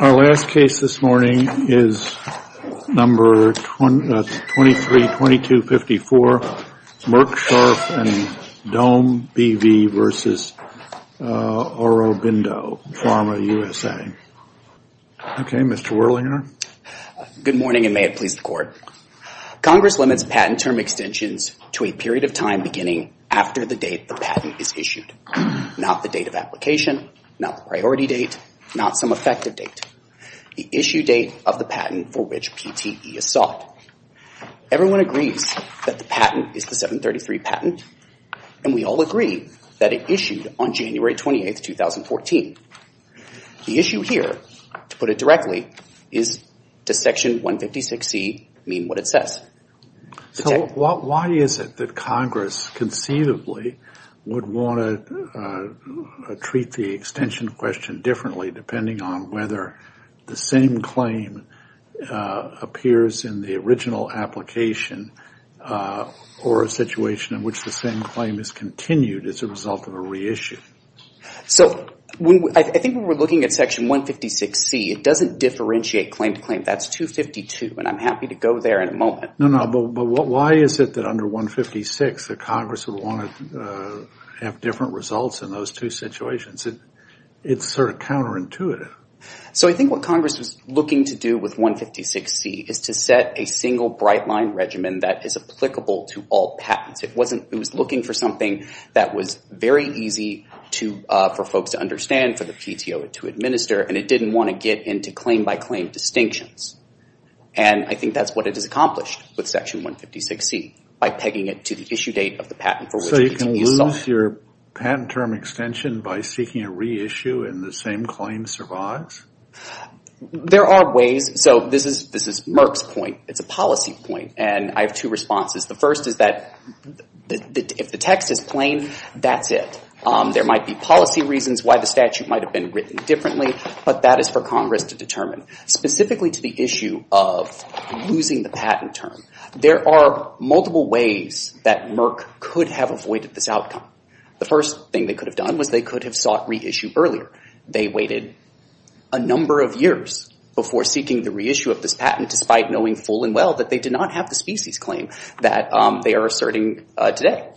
Our last case this morning is number 23-2254, Merck Sharp & Dohme B.V. v. Aurobindo Pharma USA. Okay, Mr. Werlinger. Good morning and may it please the Court. Congress limits patent term extensions to a period of time beginning after the date the patent is issued, not the date of application, not the priority date, not some effective date, the issue date of the patent for which PTE is sought. Everyone agrees that the patent is the 733 patent and we all agree that it issued on January 28, 2014. The issue here, to put it directly, is does Section 156C mean what it says? Why is it that Congress conceivably would want to treat the extension question differently depending on whether the same claim appears in the original application or a situation in which the same claim is continued as a result of a reissue? So I think when we're looking at Section 156C, it doesn't differentiate claim to claim. That's 252 and I'm happy to go there in a moment. No, no, but why is it that under 156 that Congress would want to have different results in those two situations? It's sort of counterintuitive. So I think what Congress is looking to do with 156C is to set a single bright line regimen that is applicable to all patents. It was looking for something that was very easy for folks to understand, for the PTO to administer, and it didn't want to get into claim by claim distinctions. And I think that's what it has accomplished with Section 156C by pegging it to the issue date of the patent for which PTE is sought. How does your patent term extension by seeking a reissue and the same claim survive? There are ways. So this is Merck's point. It's a policy point and I have two responses. The first is that if the text is plain, that's it. There might be policy reasons why the statute might have been written differently, but that is for Congress to determine. Specifically to the issue of losing the patent term, there are multiple ways that Merck could have avoided this outcome. The first thing they could have done was they could have sought reissue earlier. They waited a number of years before seeking the reissue of this patent despite knowing full and well that they did not have the species claim that they are asserting today.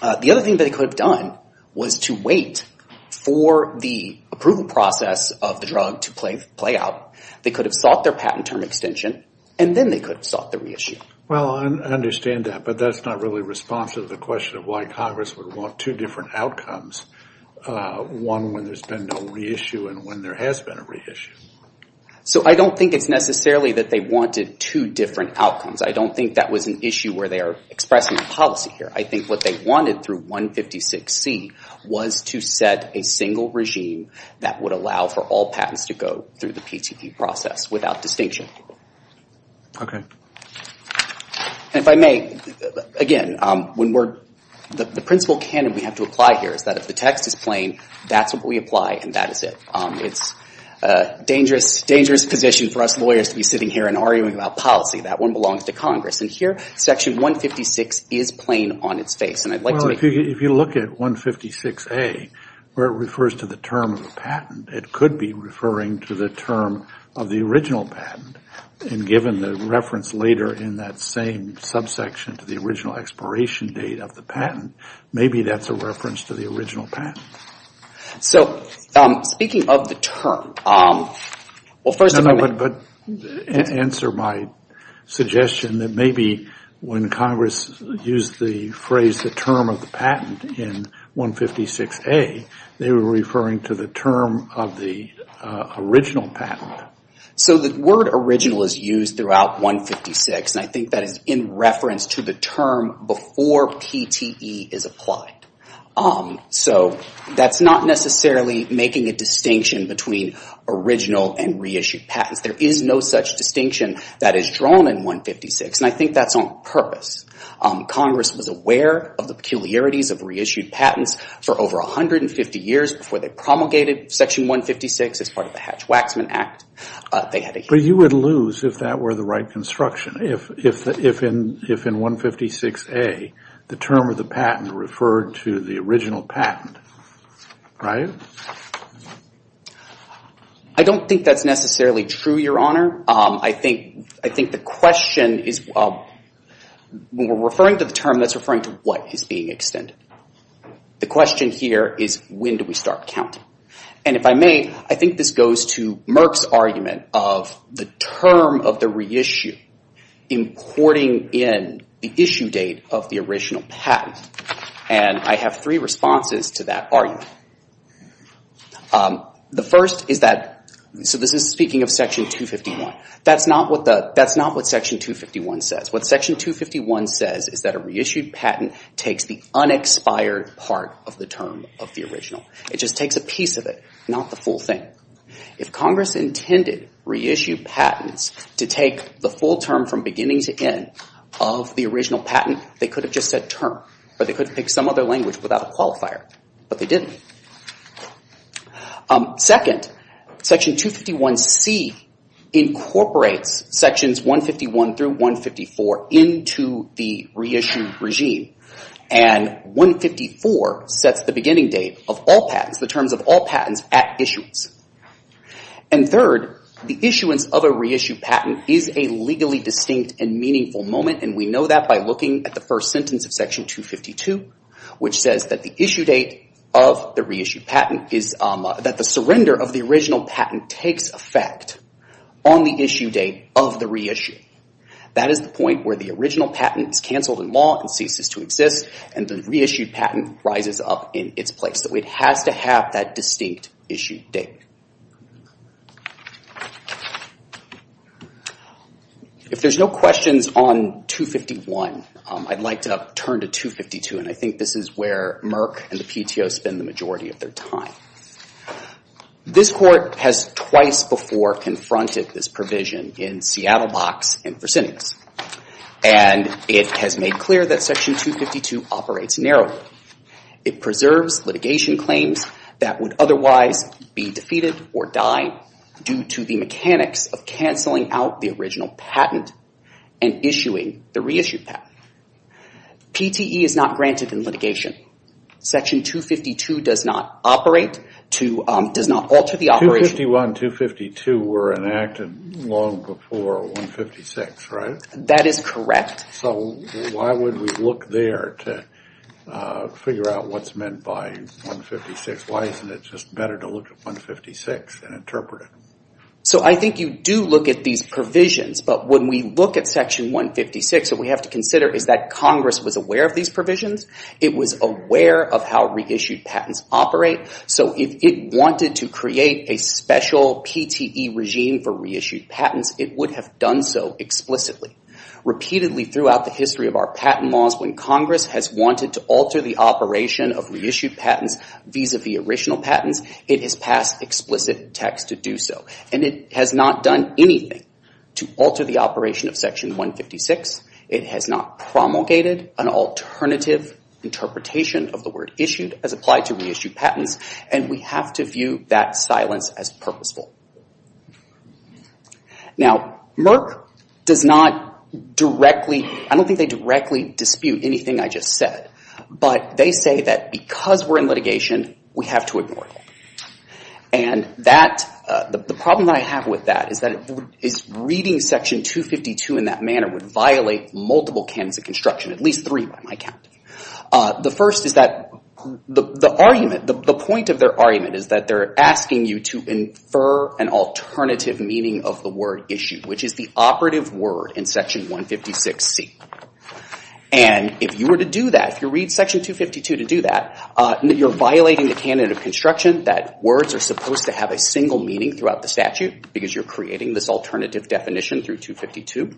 The other thing they could have done was to wait for the approval process of the drug to play out. They could have sought their patent term extension and then they could have sought the reissue. Well, I understand that, but that's not really responsive to the question of why Congress would want two different outcomes, one when there's been no reissue and when there has been a reissue. So I don't think it's necessarily that they wanted two different outcomes. I don't think that was an issue where they are expressing a policy here. I think what they wanted through 156C was to set a single regime that would allow for all patents to go through the PTP process without distinction. Okay. And if I may, again, the principle canon we have to apply here is that if the text is plain, that's what we apply and that is it. It's a dangerous position for us lawyers to be sitting here and arguing about policy. That one belongs to Congress. And here, Section 156 is plain on its face. Well, if you look at 156A, where it refers to the term of the patent, it could be referring to the term of the original patent. And given the reference later in that same subsection to the original expiration date of the patent, maybe that's a reference to the original patent. So speaking of the term, well, first of all, I would answer my suggestion that maybe when Congress used the phrase the term of the patent in 156A, they were referring to the term of the original patent. So the word original is used throughout 156, and I think that is in reference to the term before PTE is applied. So that's not necessarily making a distinction between original and reissued patents. There is no such distinction that is drawn in 156, and I think that's on purpose. Congress was aware of the peculiarities of reissued patents for over 150 years before they promulgated Section 156 as part of the Hatch-Waxman Act. But you would lose if that were the right construction, if in 156A, the term of the patent referred to the original patent, right? I don't think that's necessarily true, Your Honor. I think the question is, well, when we're referring to the term, that's referring to what is being extended. The question here is, when do we start counting? And if I may, I think this goes to Merck's argument of the term of the reissue importing in the issue date of the original patent. And I have three responses to that argument. The first is that, so this is speaking of Section 251. That's not what Section 251 says. What Section 251 says is that a reissued patent takes the unexpired part of the term of the original. It just takes a piece of it, not the full thing. If Congress intended reissued patents to take the full term from beginning to end of the original patent, they could have just said term, or they could have picked some other language without a qualifier, but they didn't. Second, Section 251c incorporates Sections 151 through 154 into the reissued regime. And 154 sets the beginning date of all patents, the terms of all patents at issuance. And third, the issuance of a reissued patent is a legally distinct and meaningful moment, and we know that by looking at the first sentence of Section 252, which says that the issue date of the reissued patent is that the surrender of the original patent takes effect on the issue date of the reissue. That is the point where the original patent is canceled in law and ceases to exist, and the reissued patent rises up in its place. So it has to have that distinct issue date. If there's no questions on 251, I'd like to turn to 252, and I think this is where Merck and the PTO spend the majority of their time. This Court has twice before confronted this provision in Seattle Box and Fresenius, and it has made clear that Section 252 operates narrowly. It preserves litigation claims that would otherwise be defeated or die due to the mechanics of canceling out the original patent and issuing the reissued patent. PTE is not granted in litigation. Section 252 does not operate, does not alter the operation. 251 and 252 were enacted long before 156, right? That is correct. So why would we look there to figure out what's meant by 156? Why isn't it just better to look at 156 and interpret it? So I think you do look at these provisions, but when we look at Section 156, we have to consider is that Congress was aware of these provisions. It was aware of how reissued patents operate. So if it wanted to create a special PTE regime for reissued patents, it would have done so explicitly. Repeatedly, throughout the history of our patent laws, when Congress has wanted to alter the operation of reissued patents vis-a-vis original patents, it has passed explicit text to do so. And it has not done anything to alter the operation of Section 156. It has not promulgated an alternative interpretation of the word issued as applied to reissued patents. And we have to view that silence as purposeful. Now Merck does not directly, I don't think they directly dispute anything I just said. But they say that because we're in litigation, we have to ignore it. And that, the problem that I have with that is that reading Section 252 in that manner would violate multiple candidates of construction, at least three by my count. The first is that the argument, the point of their argument is that they're asking you to infer an alternative meaning of the word issue, which is the operative word in Section 156C. And if you were to do that, if you read Section 252 to do that, you're violating the candidate of construction that words are supposed to have a single meaning throughout the statute because you're creating this alternative definition through 252.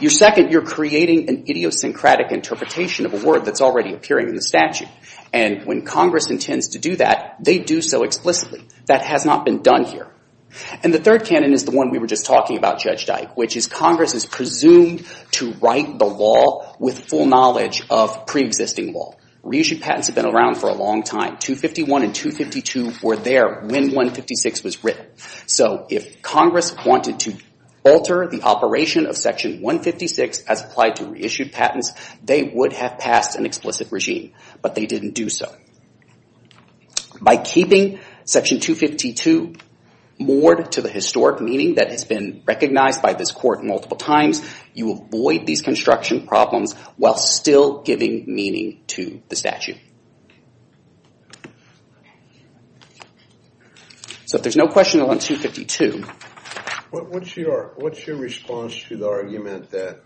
Your second, you're creating an idiosyncratic interpretation of a word that's already appearing in the statute. And when Congress intends to do that, they do so explicitly. That has not been done here. And the third canon is the one we were just talking about, Judge Dyke, which is Congress is presumed to write the law with full knowledge of preexisting law. Reissued patents have been around for a long time. 251 and 252 were there when 156 was written. So if Congress wanted to alter the operation of Section 156 as applied to reissued patents, they would have passed an explicit regime. But they didn't do so. By keeping Section 252 moored to the historic meaning that has been recognized by this court multiple times, you avoid these construction problems while still giving meaning to the statute. So if there's no question on 252. What's your response to the argument that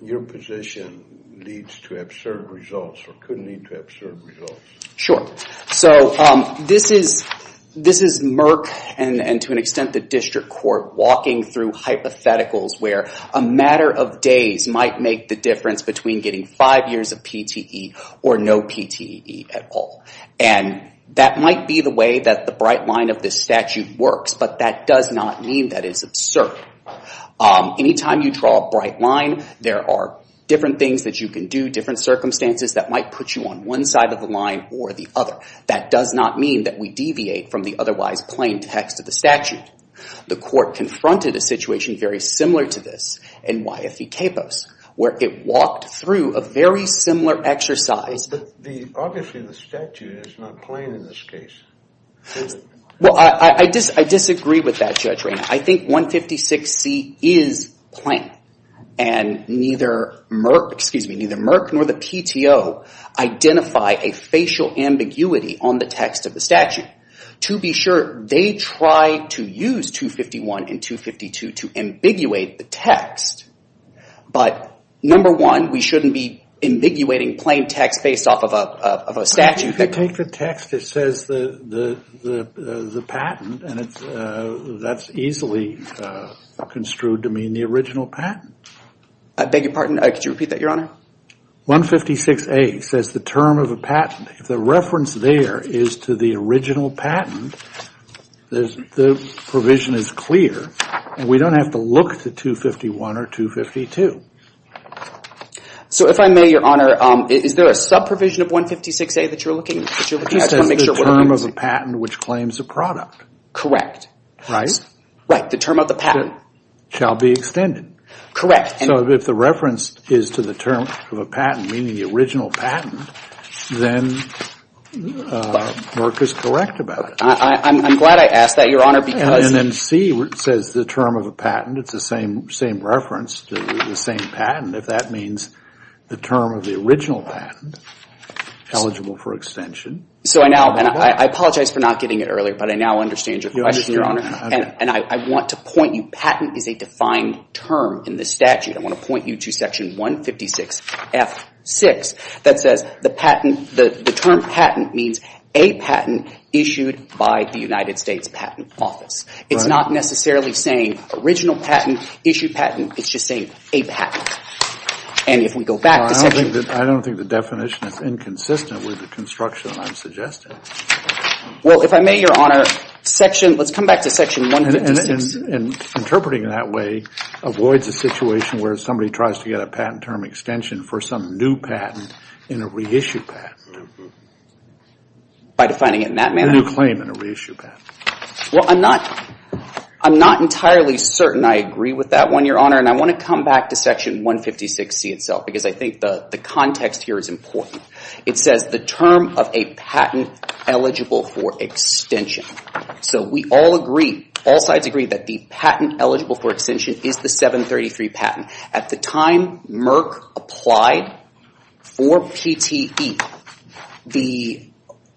your position leads to absurd results or could lead to absurd results? Sure. So this is Merck and, to an extent, the district court walking through hypotheticals where a matter of days might make the difference between getting five years of PTE or no PTE at all. And that might be the way that the bright line of this statute works. But that does not mean that it's absurd. Anytime you draw a bright line, there are different things that you can do, different circumstances that might put you on one side of the line or the other. That does not mean that we deviate from the otherwise plain text of the statute. The court confronted a situation very similar to this in YFE-CAPOS, where it walked through a very similar exercise. But obviously, the statute is not plain in this case, is it? Well, I disagree with that, Judge Rayner. I think 156C is plain. And neither Merck nor the PTO identify a facial ambiguity on the text of the statute. To be sure, they try to use 251 and 252 to ambiguate the text. But number one, we shouldn't be ambiguating plain text based off of a statute that- If you take the text that says the patent, that's easily construed to mean the original patent. I beg your pardon, could you repeat that, Your Honor? 156A says the term of a patent. If the reference there is to the original patent, the provision is clear, and we don't have to look to 251 or 252. So if I may, Your Honor, is there a sub-provision of 156A that you're looking at to make sure- It says the term of a patent which claims a product. Correct. Right? Right. The term of the patent. Shall be extended. Correct. So if the reference is to the term of a patent, meaning the original patent, then Merck is correct about it. I'm glad I asked that, Your Honor, because- And then C says the term of a patent. It's the same reference to the same patent, if that means the term of the original patent eligible for extension. So I now, and I apologize for not getting it earlier, but I now understand your question, Your Honor. And I want to point you, patent is a defined term in the statute. I want to point you to section 156F6 that says the patent, the term patent means a patent issued by the United States Patent Office. It's not necessarily saying original patent, issued patent. It's just saying a patent. And if we go back to section- I don't think the definition is inconsistent with the construction I'm suggesting. Well, if I may, Your Honor, section, let's come back to section 156. And interpreting it that way avoids a situation where somebody tries to get a patent term extension for some new patent in a reissued patent. By defining it in that manner? A new claim in a reissued patent. Well, I'm not entirely certain I agree with that one, Your Honor, and I want to come back to section 156C itself because I think the context here is important. It says the term of a patent eligible for extension. So we all agree, all sides agree that the patent eligible for extension is the 733 patent. At the time Merck applied for PTE, the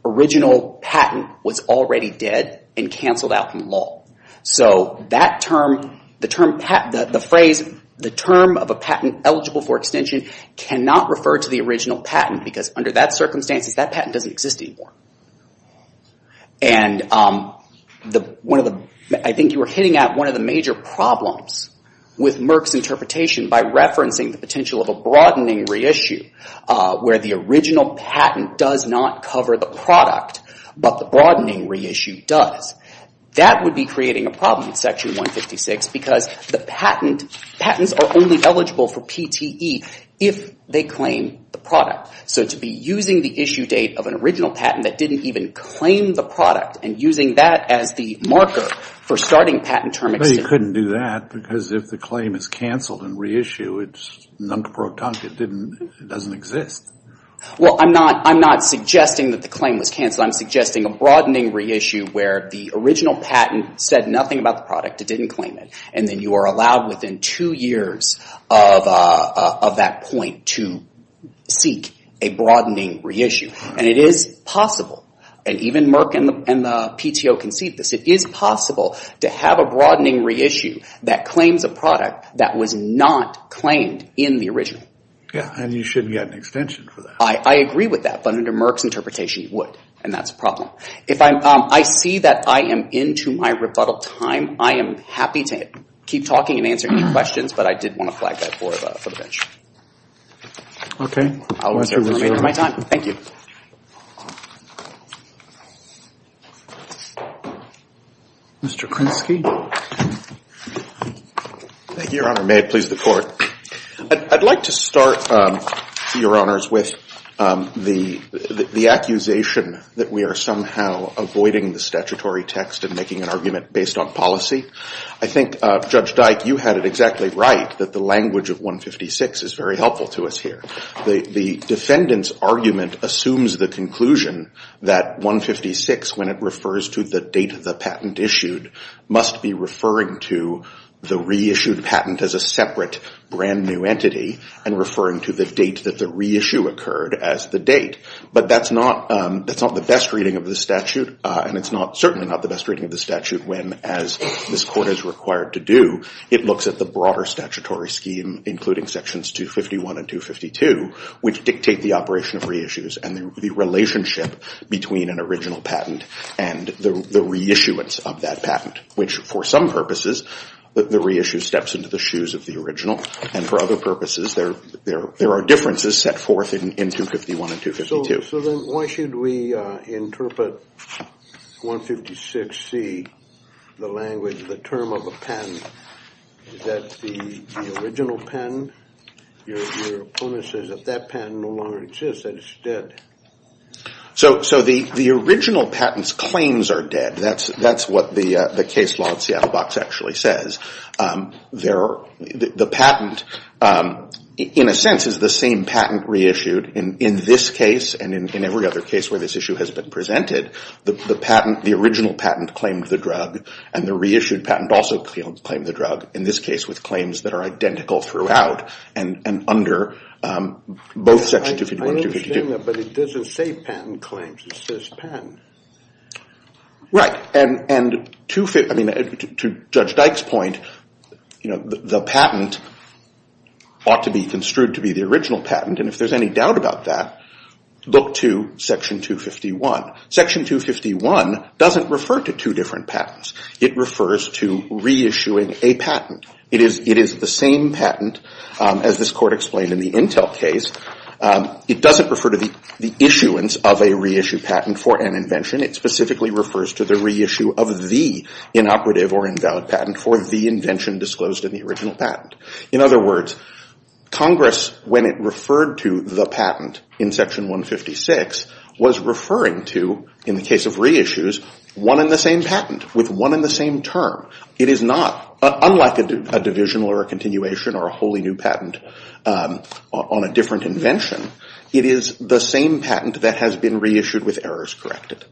original patent was already dead and canceled out from law. So that term, the phrase, the term of a patent eligible for extension cannot refer to the original patent because under that circumstance, that patent doesn't exist anymore. And I think you were hitting at one of the major problems with Merck's interpretation by referencing the potential of a broadening reissue where the original patent does not cover the product, but the broadening reissue does. That would be creating a problem in section 156 because the patents are only eligible for PTE if they claim the product. So to be using the issue date of an original patent that didn't even claim the product and using that as the marker for starting patent term extension. But you couldn't do that because if the claim is canceled and reissued, it's nunk-pro-tunk. It doesn't exist. Well, I'm not suggesting that the claim was canceled. I'm suggesting a broadening reissue where the original patent said nothing about the It didn't claim it. And then you are allowed within two years of that point to seek a broadening reissue. And it is possible, and even Merck and the PTO concede this, it is possible to have a broadening reissue that claims a product that was not claimed in the original. Yeah, and you shouldn't get an extension for that. I agree with that, but under Merck's interpretation, you would. And that's a problem. I see that I am into my rebuttal time. I am happy to keep talking and answer any questions, but I did want to flag that for the bench. OK. I'll answer when I'm ready. I'll answer when I'm ready for my time. Thank you. Mr. Krinsky? Thank you, Your Honor. May it please the Court. I'd like to start, Your Honors, with the accusation that we are somehow avoiding the statutory text and making an argument based on policy. I think, Judge Dyke, you had it exactly right that the language of 156 is very helpful to us here. The defendant's argument assumes the conclusion that 156, when it refers to the date of the patent issued, must be referring to the reissued patent as a separate, brand-new entity and referring to the date that the reissue occurred as the date. But that's not the best reading of the statute, and it's certainly not the best reading of the statute when, as this Court is required to do, it looks at the broader statutory scheme, including sections 251 and 252, which dictate the operation of reissues and the relationship between an original patent and the reissuance of that patent, which, for some purposes, the reissue steps into the shoes of the original, and for other purposes, there are differences set forth in 251 and 252. So then why should we interpret 156C, the language, the term of a patent, that the original patent, your opponent says that that patent no longer exists, that it's dead? So the original patent's claims are dead. That's what the case law at Seattle Box actually says. The patent, in a sense, is the same patent reissued in this case and in every other case where this issue has been presented. The patent, the original patent, claimed the drug, and the reissued patent also claimed the drug, in this case with claims that are identical throughout and under both section 251 and 252. But it doesn't say patent claims. It says patent. Right. And to Judge Dyke's point, the patent ought to be construed to be the original patent. And if there's any doubt about that, look to section 251. Section 251 doesn't refer to two different patents. It refers to reissuing a patent. It is the same patent, as this court explained in the Intel case. It doesn't refer to the issuance of a reissue patent for an invention. It specifically refers to the reissue of the inoperative or invalid patent for the invention disclosed in the original patent. In other words, Congress, when it referred to the patent in section 156, was referring to, in the case of reissues, one and the same patent with one and the same term. It is not, unlike a divisional or a continuation or a wholly new patent on a different invention, it is the same patent that has been reissued with errors corrected.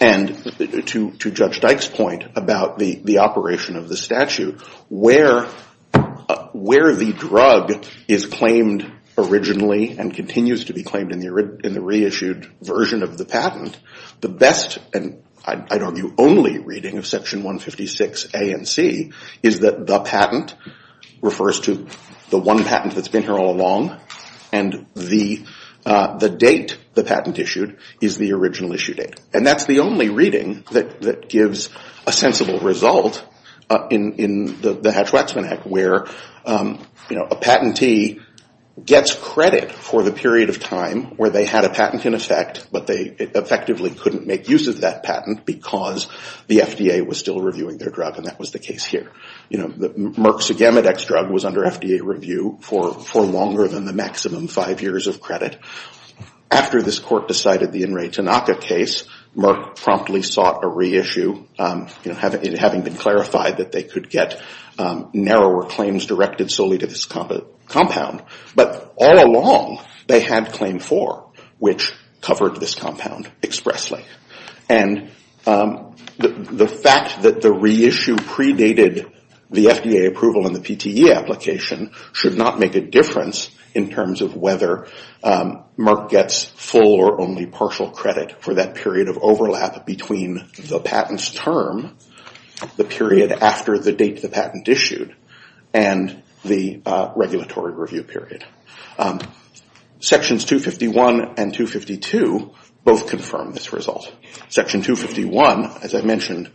And to Judge Dyke's point about the operation of the statute, where the drug is claimed originally and continues to be claimed in the reissued version of the patent, the best and, I'd argue, only reading of section 156 A and C is that the patent refers to the one patent that's been here all along, and the date the patent issued is the original issue date. And that's the only reading that gives a sensible result in the Hatch-Waxman Act, where a patentee gets credit for the period of time where they had a patent in effect, but they effectively couldn't make use of that patent because the FDA was still reviewing their drug, and that was the case here. You know, Merck's Sigamodex drug was under FDA review for longer than the maximum five years of credit. After this court decided the Enre Tanaka case, Merck promptly sought a reissue, you know, having been clarified that they could get narrower claims directed solely to this compound. But all along, they had claim four, which covered this compound expressly. And the fact that the reissue predated the FDA approval in the PTE application should not make a difference in terms of whether Merck gets full or only partial credit for that period of overlap between the patent's term, the period after the date the patent issued, and the regulatory review period. Sections 251 and 252 both confirm this result. Section 251, as I mentioned,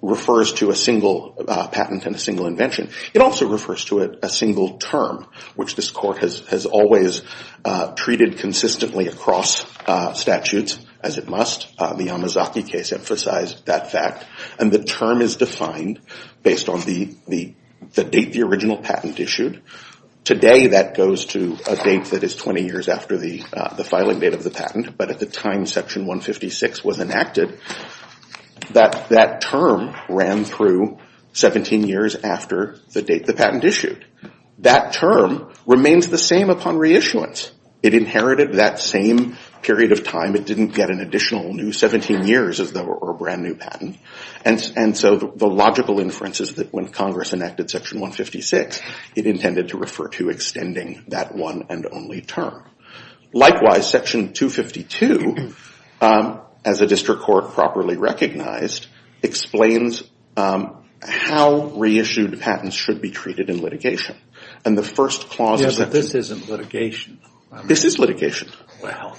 refers to a single patent and a single invention. It also refers to a single term, which this court has always treated consistently across statutes, as it must. The Yamazaki case emphasized that fact. And the term is defined based on the date the original patent issued. Today, that goes to a date that is 20 years after the filing date of the patent. But at the time Section 156 was enacted, that term ran through 17 years after the date the patent issued. That term remains the same upon reissuance. It inherited that same period of time. It didn't get an additional new 17 years as though it were a brand new patent. And so the logical inference is that when Congress enacted Section 156, it intended to refer to extending that one and only term. Likewise, Section 252, as a district court properly recognized, explains how reissued patents should be treated in litigation. And the first clause is that this isn't litigation. This is litigation. Well,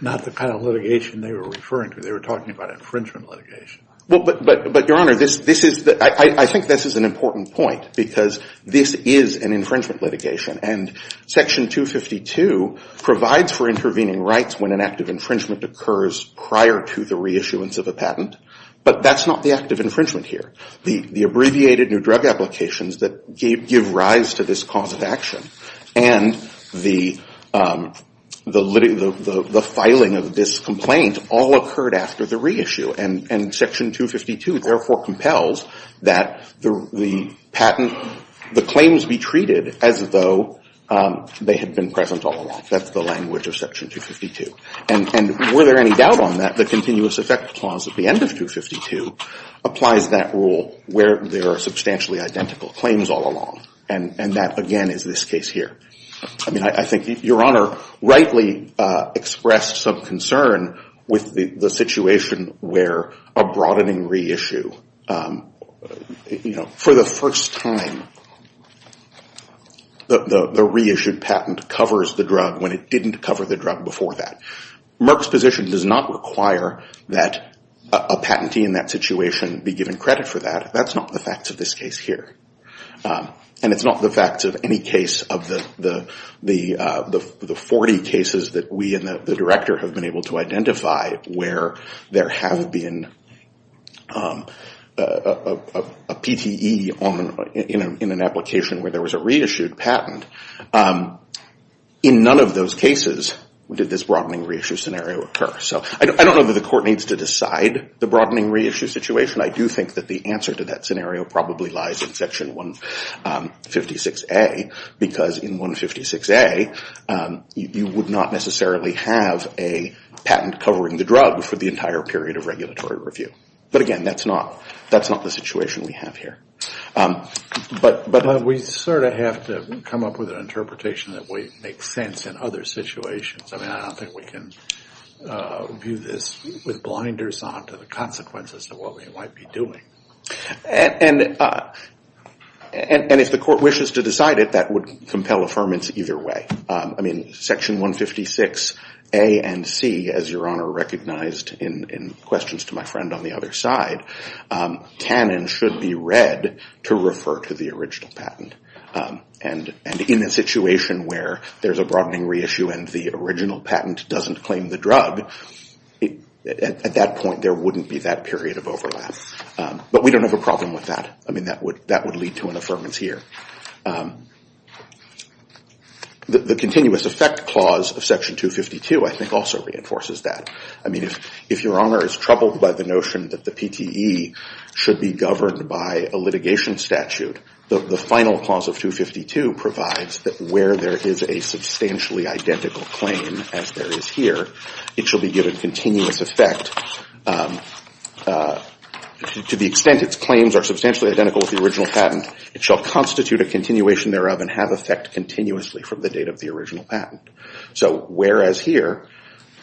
not the kind of litigation they were referring to. They were talking about infringement litigation. Well, but Your Honor, I think this is an important point. Because this is an infringement litigation. And Section 252 provides for intervening rights when an act of infringement occurs prior to the reissuance of a patent. But that's not the act of infringement here. The abbreviated new drug applications that give rise to this cause of action and the filing of this complaint all occurred after the reissue. And Section 252, therefore, compels that the claims be treated as though they had been present all along. That's the language of Section 252. And were there any doubt on that, the continuous effect clause at the end of 252 applies that rule where there are substantially identical claims all along. And that, again, is this case here. I mean, I think Your Honor rightly expressed some concern with the situation where a broadening reissue, for the first time, the reissued patent covers the drug when it didn't cover the drug before that. Merck's position does not require that a patentee in that situation be given credit for that. That's not the facts of this case here. And it's not the facts of any case of the 40 cases that we and the director have been able to identify where there have been a PTE in an application where there was a reissued patent. In none of those cases did this broadening reissue scenario occur. So I don't know that the court needs to decide the broadening reissue situation. I do think that the answer to that scenario probably lies in Section 156A. Because in 156A, you would not necessarily have a patent covering the drug for the entire period of regulatory review. But again, that's not the situation we have here. But we sort of have to come up with an interpretation that would make sense in other situations. I mean, I don't think we can view this with blinders on to the consequences of what we might be doing. And if the court wishes to decide it, that would compel affirmance either way. I mean, Section 156A and C, as your honor recognized in questions to my friend on the other side, can and should be read to refer to the original patent. And in a situation where there's a broadening reissue and the original patent doesn't claim the drug, at that point there wouldn't be that period of overlap. But we don't have a problem with that. I mean, that would lead to an affirmance here. The continuous effect clause of Section 252, I think, also reinforces that. I mean, if your honor is troubled by the notion that the PTE should be governed by a litigation statute, the final clause of 252 provides that where there is a substantially identical claim, as there is here, it shall be given continuous effect to the extent its claims are substantially identical with the original patent. It shall constitute a continuation thereof and have effect continuously from the date of the original patent. So whereas here,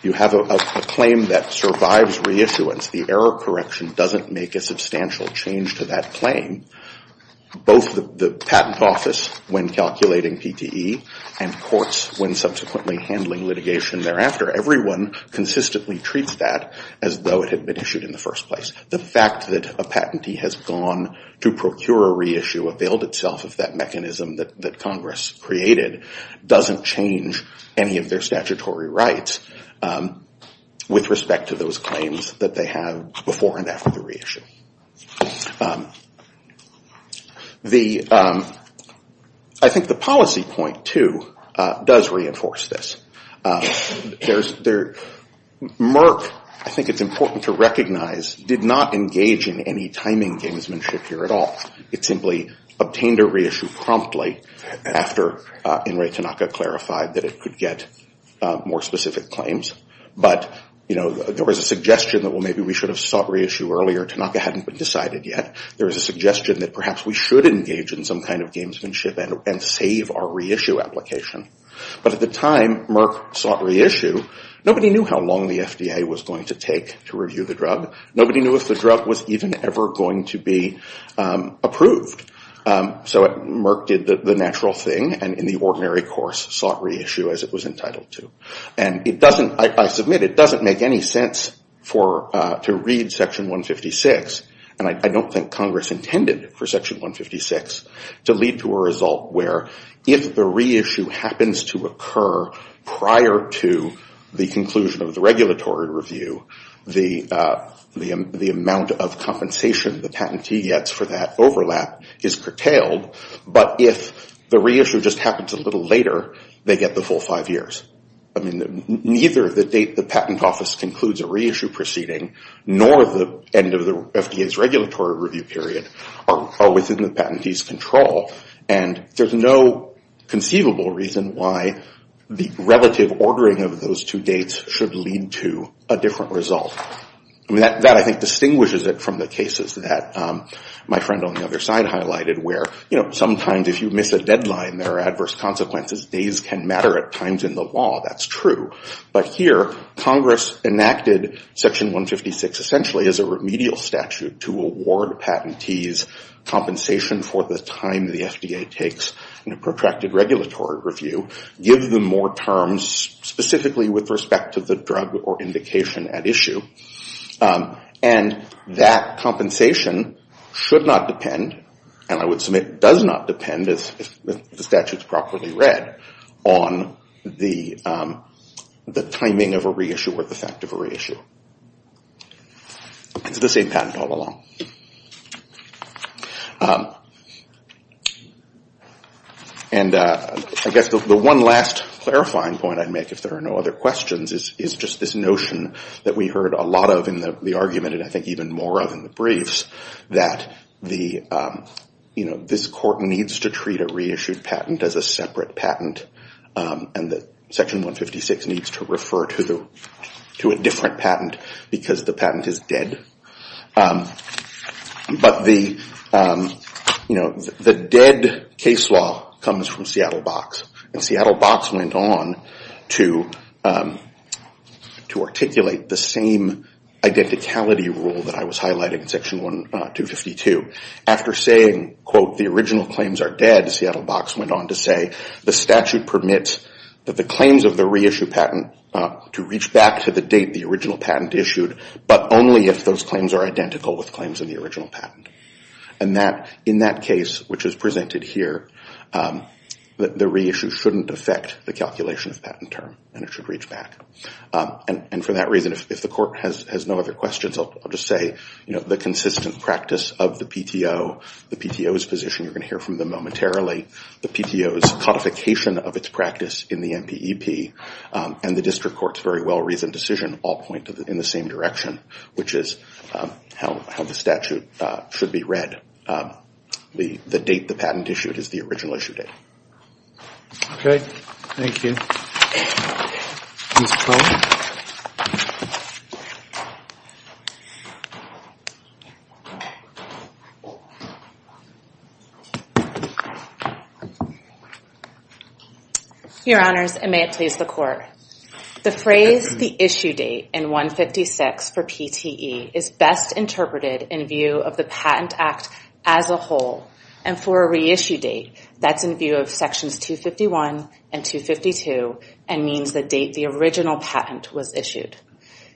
you have a claim that survives reissuance. The error correction doesn't make a substantial change to that claim. Both the patent office, when calculating PTE, and courts, when subsequently handling litigation thereafter, everyone consistently treats that as though it had been issued in the first place. The fact that a patentee has gone to procure a reissue, availed itself of that mechanism that Congress created, doesn't change any of their statutory rights with respect to those claims that they have before and after the reissue. I think the policy point, too, does reinforce this. Merck, I think it's important to recognize, did not engage in any timing gamesmanship here at all. It simply obtained a reissue promptly after Inrei Tanaka clarified that it could get more specific claims. But there was a suggestion that, well, maybe we should have sought reissue earlier. Tanaka hadn't been decided yet. There was a suggestion that perhaps we should engage in some kind of gamesmanship and save our reissue application. But at the time Merck sought reissue, nobody knew how long the FDA was going to take to review the drug. Nobody knew if the drug was even ever going to be approved. So Merck did the natural thing and, in the ordinary course, sought reissue as it was entitled to. And I submit it doesn't make any sense to read Section 156. And I don't think Congress intended for Section 156 to lead to a result where, if the reissue happens to occur prior to the conclusion of the regulatory review, the amount of compensation the patentee gets for that overlap is curtailed. But if the reissue just happens a little later, they get the full five years. I mean, neither the date the patent office concludes a reissue proceeding nor the end of the FDA's regulatory review period are within the patentee's control. And there's no conceivable reason why the relative ordering of those two dates should lead to a different result. That, I think, distinguishes it from the cases that my friend on the other side highlighted, where sometimes, if you miss a deadline, there are adverse consequences. Days can matter at times in the law. That's true. But here, Congress enacted Section 156, essentially, as a remedial statute to award patentees compensation for the time the FDA takes in a protracted regulatory review, give them more terms, specifically with respect to the drug or indication at issue. And that compensation should not depend, and I would submit does not depend, if the statute's properly read, on the timing of a reissue or the fact of a reissue. It's the same patent all along. And I guess the one last clarifying point I'd make, if there are no other questions, is just this notion that we heard a lot of in the argument, and I think even more of in the briefs, that this court needs to treat a reissued patent as a separate patent. And that Section 156 needs to refer to a different patent, because the patent is dead. But the dead case law comes from Seattle Box. And Seattle Box went on to articulate the same identicality rule that I was highlighting in Section 152. After saying, quote, the original claims are dead, Seattle Box went on to say, the statute permits that the claims of the reissued patent to reach back to the date the original patent issued, but only if those claims are identical with claims in the original patent. And in that case, which is presented here, the reissue shouldn't affect the calculation of patent term, and it should reach back. And for that reason, if the court has no other questions, I'll just say, the consistent practice of the PTO, the PTO's position, you're going to hear from them momentarily, the PTO's codification of its practice in the MPEP, and the district court's very well-reasoned decision all point in the same direction, which is how the statute should be read. The date the patent issued is the original issue date. OK. Thank you. Ms. Clay? Your Honors, and may it please the Court. The phrase, the issue date in 156 for PTE is best interpreted in view of the Patent Act as a whole. And for a reissue date, that's in view of sections 251 and 252, and means the date the original patent was issued.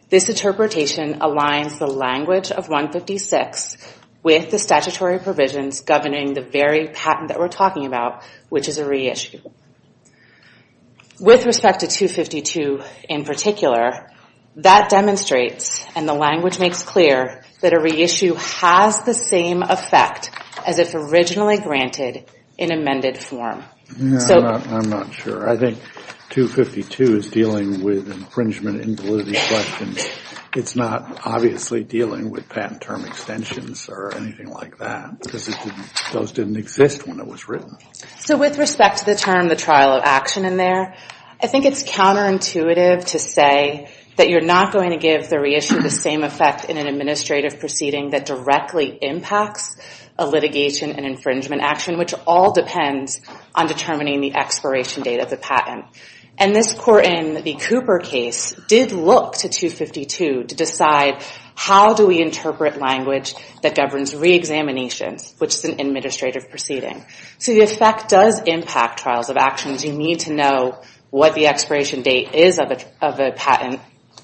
This interpretation aligns the language of 156 with the statutory provisions governing the very patent that we're talking about, which is a reissue. With respect to 252 in particular, that demonstrates, and the language makes clear, that a reissue has the same effect as if originally granted in amended form. I'm not sure. I think 252 is dealing with infringement invalidity questions. It's not obviously dealing with patent term extensions or anything like that, because those didn't exist when it was written. So with respect to the term, the trial of action in there, I think it's counterintuitive to say that you're not going to give the reissue the same effect in an administrative proceeding that directly impacts a litigation and infringement action, which all depends on determining the expiration date of the patent. And this court in the Cooper case did look to 252 to decide, how do we interpret language that governs reexaminations, which is an administrative proceeding? So the effect does impact trials of actions. You need to know what the expiration date is of a patent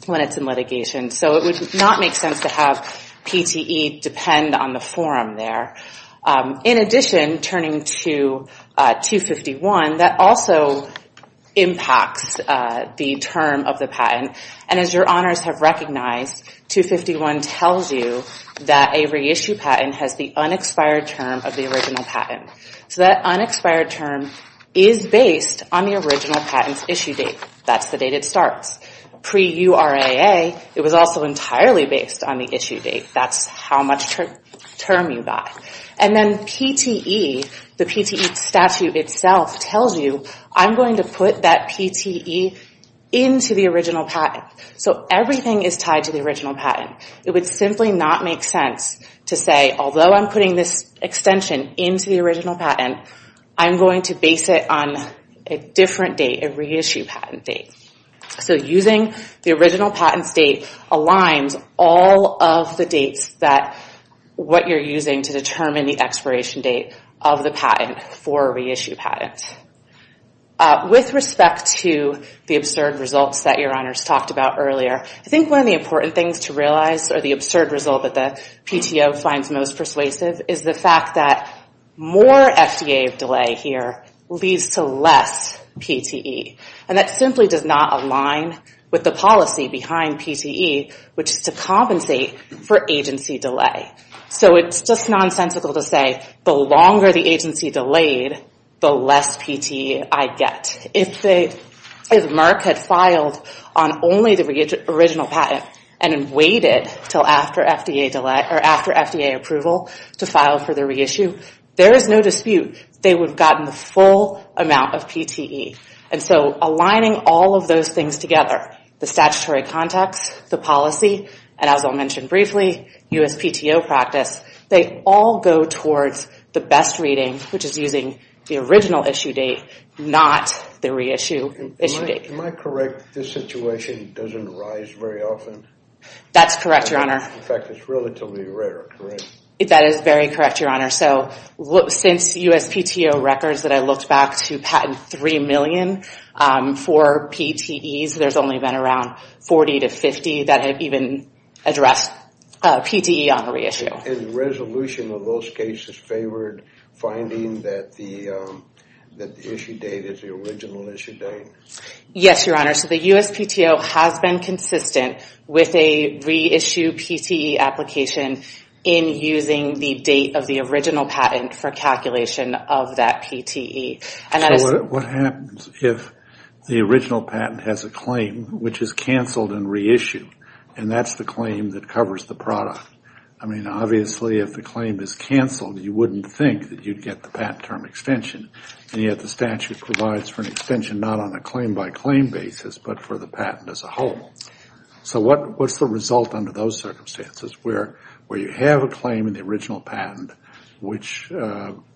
when it's in litigation. So it would not make sense to have PTE depend on the forum there. In addition, turning to 251, that also impacts the term of the patent. And as your honors have recognized, 251 tells you that a reissue patent has the unexpired term of the original patent. So that unexpired term is based on the original patent's issue date. That's the date it starts. Pre-URAA, it was also entirely based on the issue date. That's how much term you got. And then PTE, the PTE statute itself tells you, I'm going to put that PTE into the original patent. So everything is tied to the original patent. It would simply not make sense to say, although I'm putting this extension into the original patent, I'm going to base it on a different date, a reissue patent date. So using the original patent's date aligns all of the dates that what you're using to determine the expiration date of the patent for a reissue patent. With respect to the absurd results that your honors talked about earlier, I think one of the important things to realize or the absurd result that the PTO finds most persuasive is the fact that more FDA delay here leads to less PTE. And that simply does not align with the policy behind PTE, which is to compensate for agency delay. So it's just nonsensical to say, the longer the agency delayed, the less PTE I get. If Merck had filed on only the original patent and then waited till after FDA approval to file for the reissue, there is no dispute they would have gotten the full amount of PTE. And so aligning all of those things together, the statutory context, the policy, and as I'll mention briefly, USPTO practice, they all go towards the best reading, which is using the original issue date, not the reissue issue date. Am I correct that this situation doesn't arise very often? That's correct, your honor. In fact, it's relatively rare, correct? That is very correct, your honor. So since USPTO records that I looked back to patent 3 million for PTEs, there's only been around 40 to 50 that have even addressed PTE on a reissue. And the resolution of those cases favored finding that the issue date is the original issue date? Yes, your honor. So the USPTO has been consistent with a reissue PTE application in using the date of the original patent for calculation of that PTE. What happens if the original patent has a claim which is canceled and reissued, and that's the claim that covers the product? I mean, obviously, if the claim is canceled, you wouldn't think that you'd get the patent term extension. And yet the statute provides for an extension not on a claim by claim basis, but for the patent as a whole. So what's the result under those circumstances, where you have a claim in the original patent which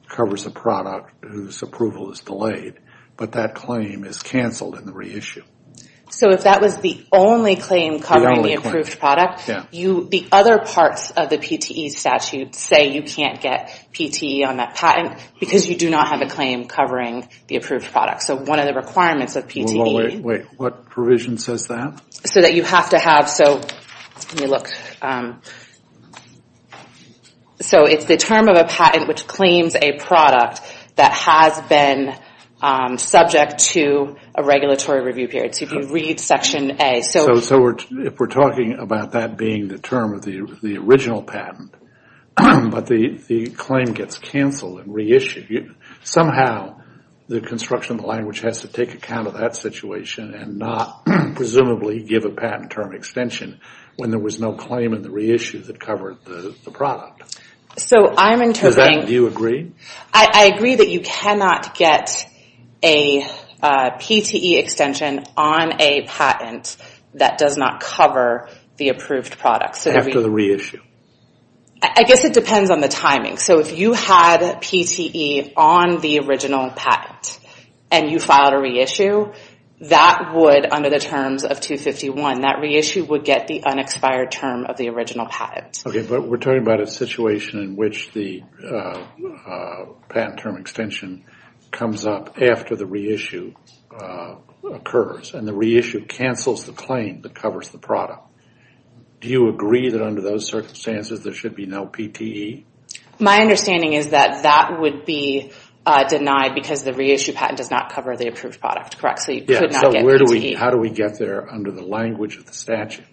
covers a product whose approval is delayed, but that claim is canceled in the reissue? So if that was the only claim covering the approved product, the other parts of the PTE statute say you can't get PTE on that patent, because you do not have a claim covering the approved product. So one of the requirements of PTE. Wait, what provision says that? So that you have to have, so let me look. So it's the term of a patent which claims a product that has been subject to a regulatory review period. So if you read section A. So if we're talking about that being the term of the original patent, but the claim gets canceled and reissued, somehow the construction of the language has to take account of that situation and not presumably give a patent term extension when there was no claim in the reissue that covered the product. So I'm interpreting. Do you agree? I agree that you cannot get a PTE extension on a patent that does not cover the approved product. So after the reissue. I guess it depends on the timing. So if you had PTE on the original patent and you filed a reissue, that would, under the terms of 251, that reissue would get the unexpired term of the original patent. OK, but we're talking about a situation in which the patent term extension comes up after the reissue occurs. And the reissue cancels the claim that covers the product. Do you agree that under those circumstances there should be no PTE? My understanding is that that would be denied because the reissue patent does not cover the approved product, correct? So you could not get PTE. How do we get there under the language of the statute?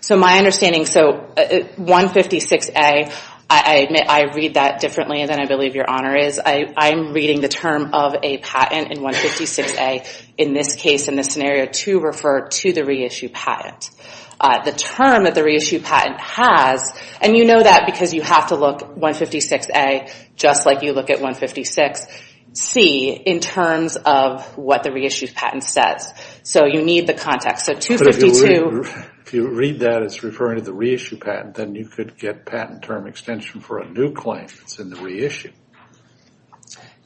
So my understanding, so 156A, I admit I read that differently than I believe your honor is. I'm reading the term of a patent in 156A, in this case, in this scenario, to refer to the reissue patent. The term that the reissue patent has, and you know that because you have to look 156A just like you look at 156C in terms of what the reissue patent says. So you need the context. But if you read that as referring to the reissue patent, then you could get patent term extension for a new claim that's in the reissue.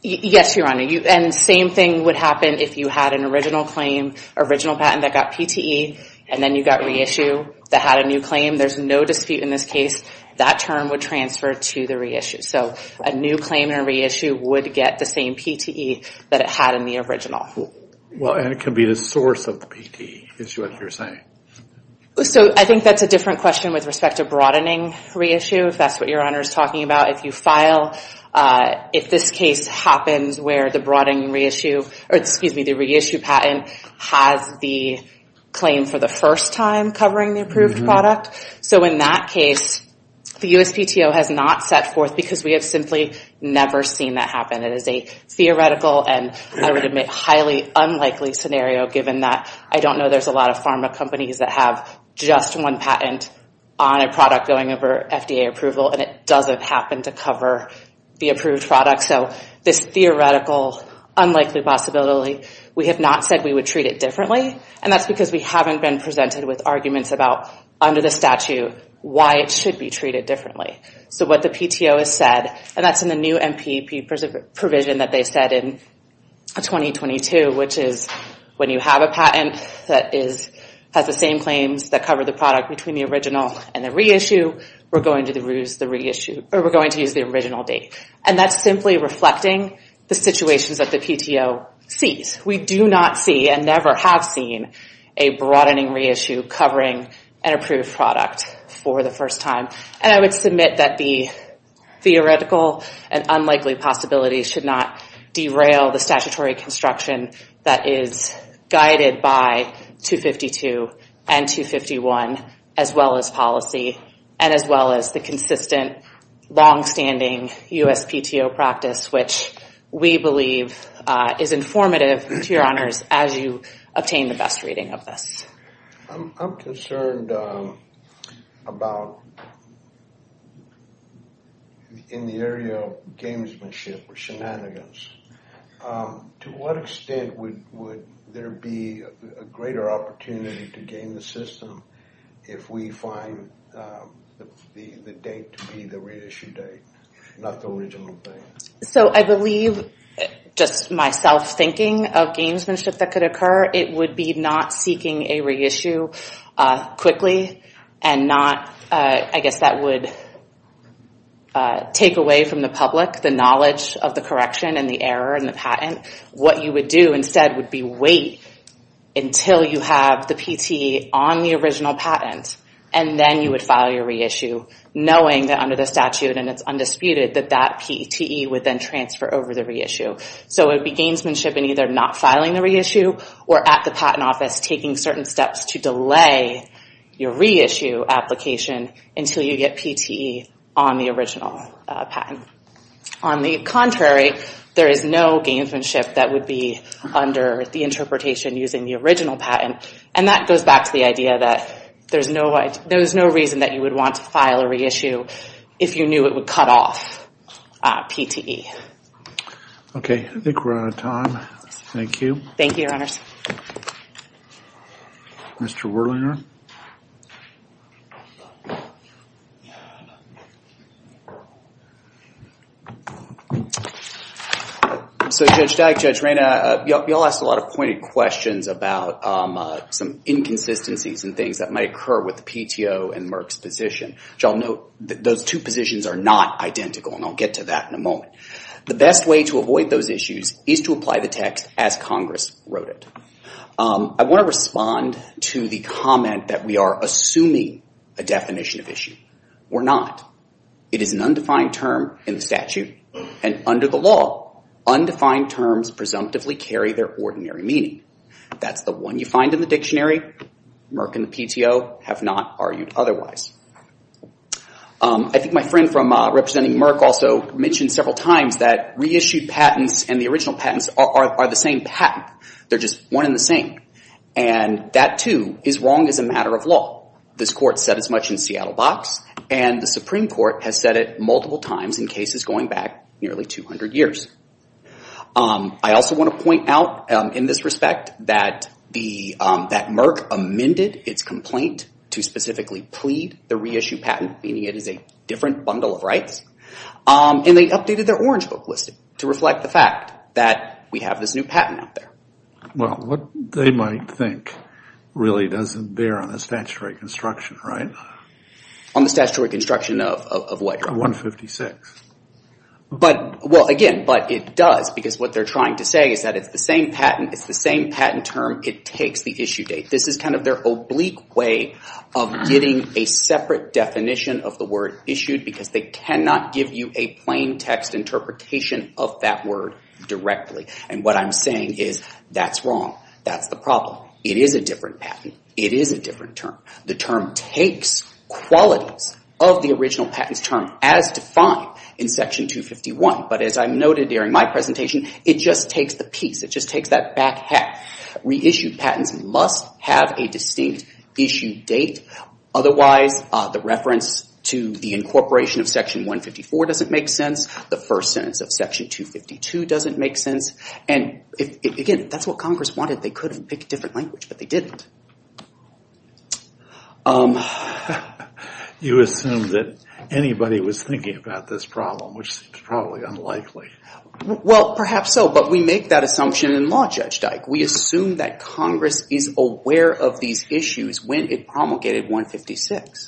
Yes, your honor. And same thing would happen if you had an original claim, original patent that got PTE, and then you got reissue that had a new claim. There's no dispute in this case. That term would transfer to the reissue. So a new claim in a reissue would get the same PTE that it had in the original. Well, and it could be the source of the PTE, is what you're saying. So I think that's a different question with respect to broadening reissue, if that's what your honor is talking about, if you file, if this case happens where the broadening reissue, or excuse me, the reissue patent has the claim for the first time covering the approved product. So in that case, the USPTO has not set forth because we have simply never seen that happen. It is a theoretical and, I would admit, highly unlikely scenario, given that I don't know there's a lot of pharma companies that have just one patent on a product going over FDA approval, and it doesn't happen to cover the approved product. So this theoretical, unlikely possibility, we have not said we would treat it differently. And that's because we haven't been presented with arguments about, under the statute, why it should be treated differently. So what the PTO has said, and that's in the new NPP provision that they said in 2022, which is, when you have a patent that has the same claims that cover the product between the original and the reissue, we're going to use the original date. And that's simply reflecting the situations that the PTO sees. We do not see, and never have seen, a broadening reissue covering an approved product for the first time. And I would submit that the theoretical and unlikely possibility should not derail the statutory construction that is guided by 252 and 251, as well as policy, and as well as the consistent, longstanding US PTO practice, which we believe is informative, to your honors, as you obtain the best reading of this. I'm concerned about, in the area of gamesmanship or shenanigans, to what extent would there be a greater opportunity to game the system if we find the date to be the reissue date, not the original date? So I believe, just my self-thinking of gamesmanship that could occur, it would be not seeking a reissue quickly, and not, I guess, that would take away from the public the knowledge of the correction, and the error, and the patent. What you would do instead would be wait until you have the PTE on the original patent, and then you would file your reissue, knowing that under the statute, and it's undisputed, that that PTE would then transfer over the reissue. So it would be gamesmanship in either not filing the reissue, or at the patent office taking certain steps to delay your reissue application until you get PTE on the original patent. On the contrary, there is no gamesmanship that would be under the interpretation using the original patent. And that goes back to the idea that there was no reason that you would want to file a reissue if you knew it would cut off PTE. OK, I think we're out of time. Thank you. Thank you, Your Honors. Mr. Werlinger. So Judge Dyke, Judge Reyna, you all asked a lot of pointed questions about some inconsistencies and things that might occur with the PTO and Merck's position. Y'all know that those two positions are not identical, and I'll get to that in a moment. The best way to avoid those issues is to apply the text as Congress wrote it. I want to respond to the comment that we are assuming a definition of issue. We're not. It is an undefined term in the statute, and under the law, undefined terms presumptively carry their ordinary meaning. That's the one you find in the dictionary. Merck and the PTO have not argued otherwise. I think my friend from representing Merck also mentioned several times that reissued patents and the original patents are the same patent. They're just one and the same. And that, too, is wrong as a matter of law. This court said as much in Seattle Box, and the Supreme Court has said it multiple times in cases going back nearly 200 years. I also want to point out in this respect that Merck amended its complaint to specifically plead the reissued patent, meaning it is a different bundle of rights. And they updated their Orange Book listing to reflect the fact that we have this new patent out there. Well, what they might think really doesn't bear on the statutory construction, right? On the statutory construction of what? 156. But, well, again, but it does, because what they're trying to say is that it's the same patent. It's the same patent term. It takes the issue date. This is kind of their oblique way of getting a separate definition of the word issued, because they cannot give you a plain text interpretation of that word directly. And what I'm saying is that's wrong. That's the problem. It is a different patent. It is a different term. The term takes qualities of the original patent's term as defined in Section 251. But as I noted during my presentation, it just takes the piece. It just takes that back half. Reissued patents must have a distinct issue date. Otherwise, the reference to the incorporation of Section 154 doesn't make sense. The first sentence of Section 252 doesn't make sense. And again, that's what Congress wanted. They could have picked a different language, but they didn't. You assume that anybody was thinking about this problem, which is probably unlikely. Well, perhaps so. But we make that assumption in law, Judge Dyke. We assume that Congress is aware of these issues when it promulgated 156.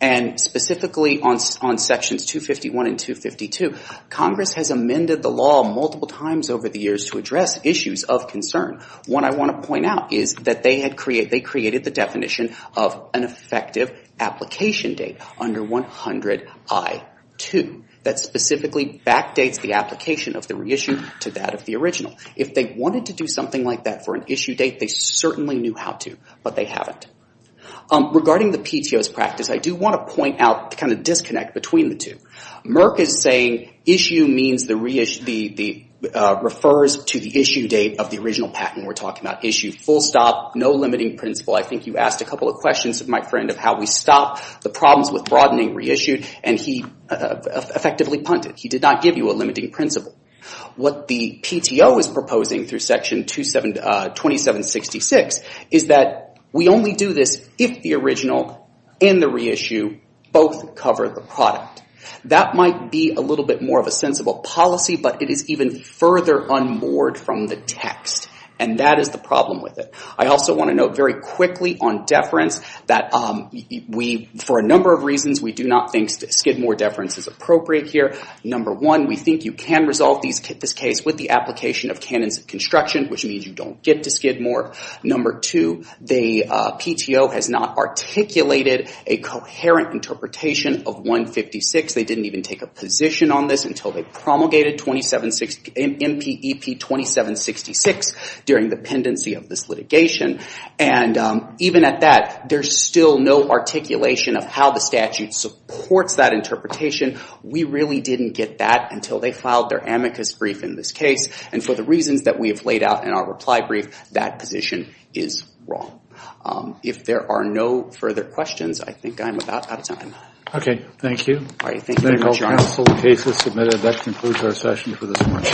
And specifically on Sections 251 and 252, Congress has amended the law multiple times over the years to address issues of concern. What I want to point out is that they created the definition of an effective application date under 100 I-2. That specifically backdates the application of the reissue to that of the original. If they wanted to do something like that for an issue date, they certainly knew how to, but they haven't. Regarding the PTO's practice, I do want to point out the disconnect between the two. Merck is saying issue refers to the issue date of the original patent. We're talking about issue full stop, no limiting principle. I think you asked a couple of questions, my friend, of how we stop the problems with broadening reissued. And he effectively punted. He did not give you a limiting principle. What the PTO is proposing through Section 2766 is that we only do this if the original and the reissue both cover the product. That might be a little bit more of a sensible policy, but it is even further unmoored from the text. And that is the problem with it. I also want to note very quickly on deference that for a number of reasons, we do not think skid more deference is appropriate here. Number one, we think you can resolve this case with the application of canons of construction, which means you don't get to skid more. Number two, the PTO has not articulated a coherent interpretation of 156. They didn't even take a position on this until they promulgated MPEP 2766 during the pendency of this litigation. And even at that, there's still no articulation of how the statute supports that interpretation. We really didn't get that until they filed their amicus brief in this case. And for the reasons that we have laid out in our reply brief, that position is wrong. If there are no further questions, I think I'm about out of time. OK, thank you. All right, thank you, Mr. Chairman. Medical counsel cases submitted. That concludes our session for this morning.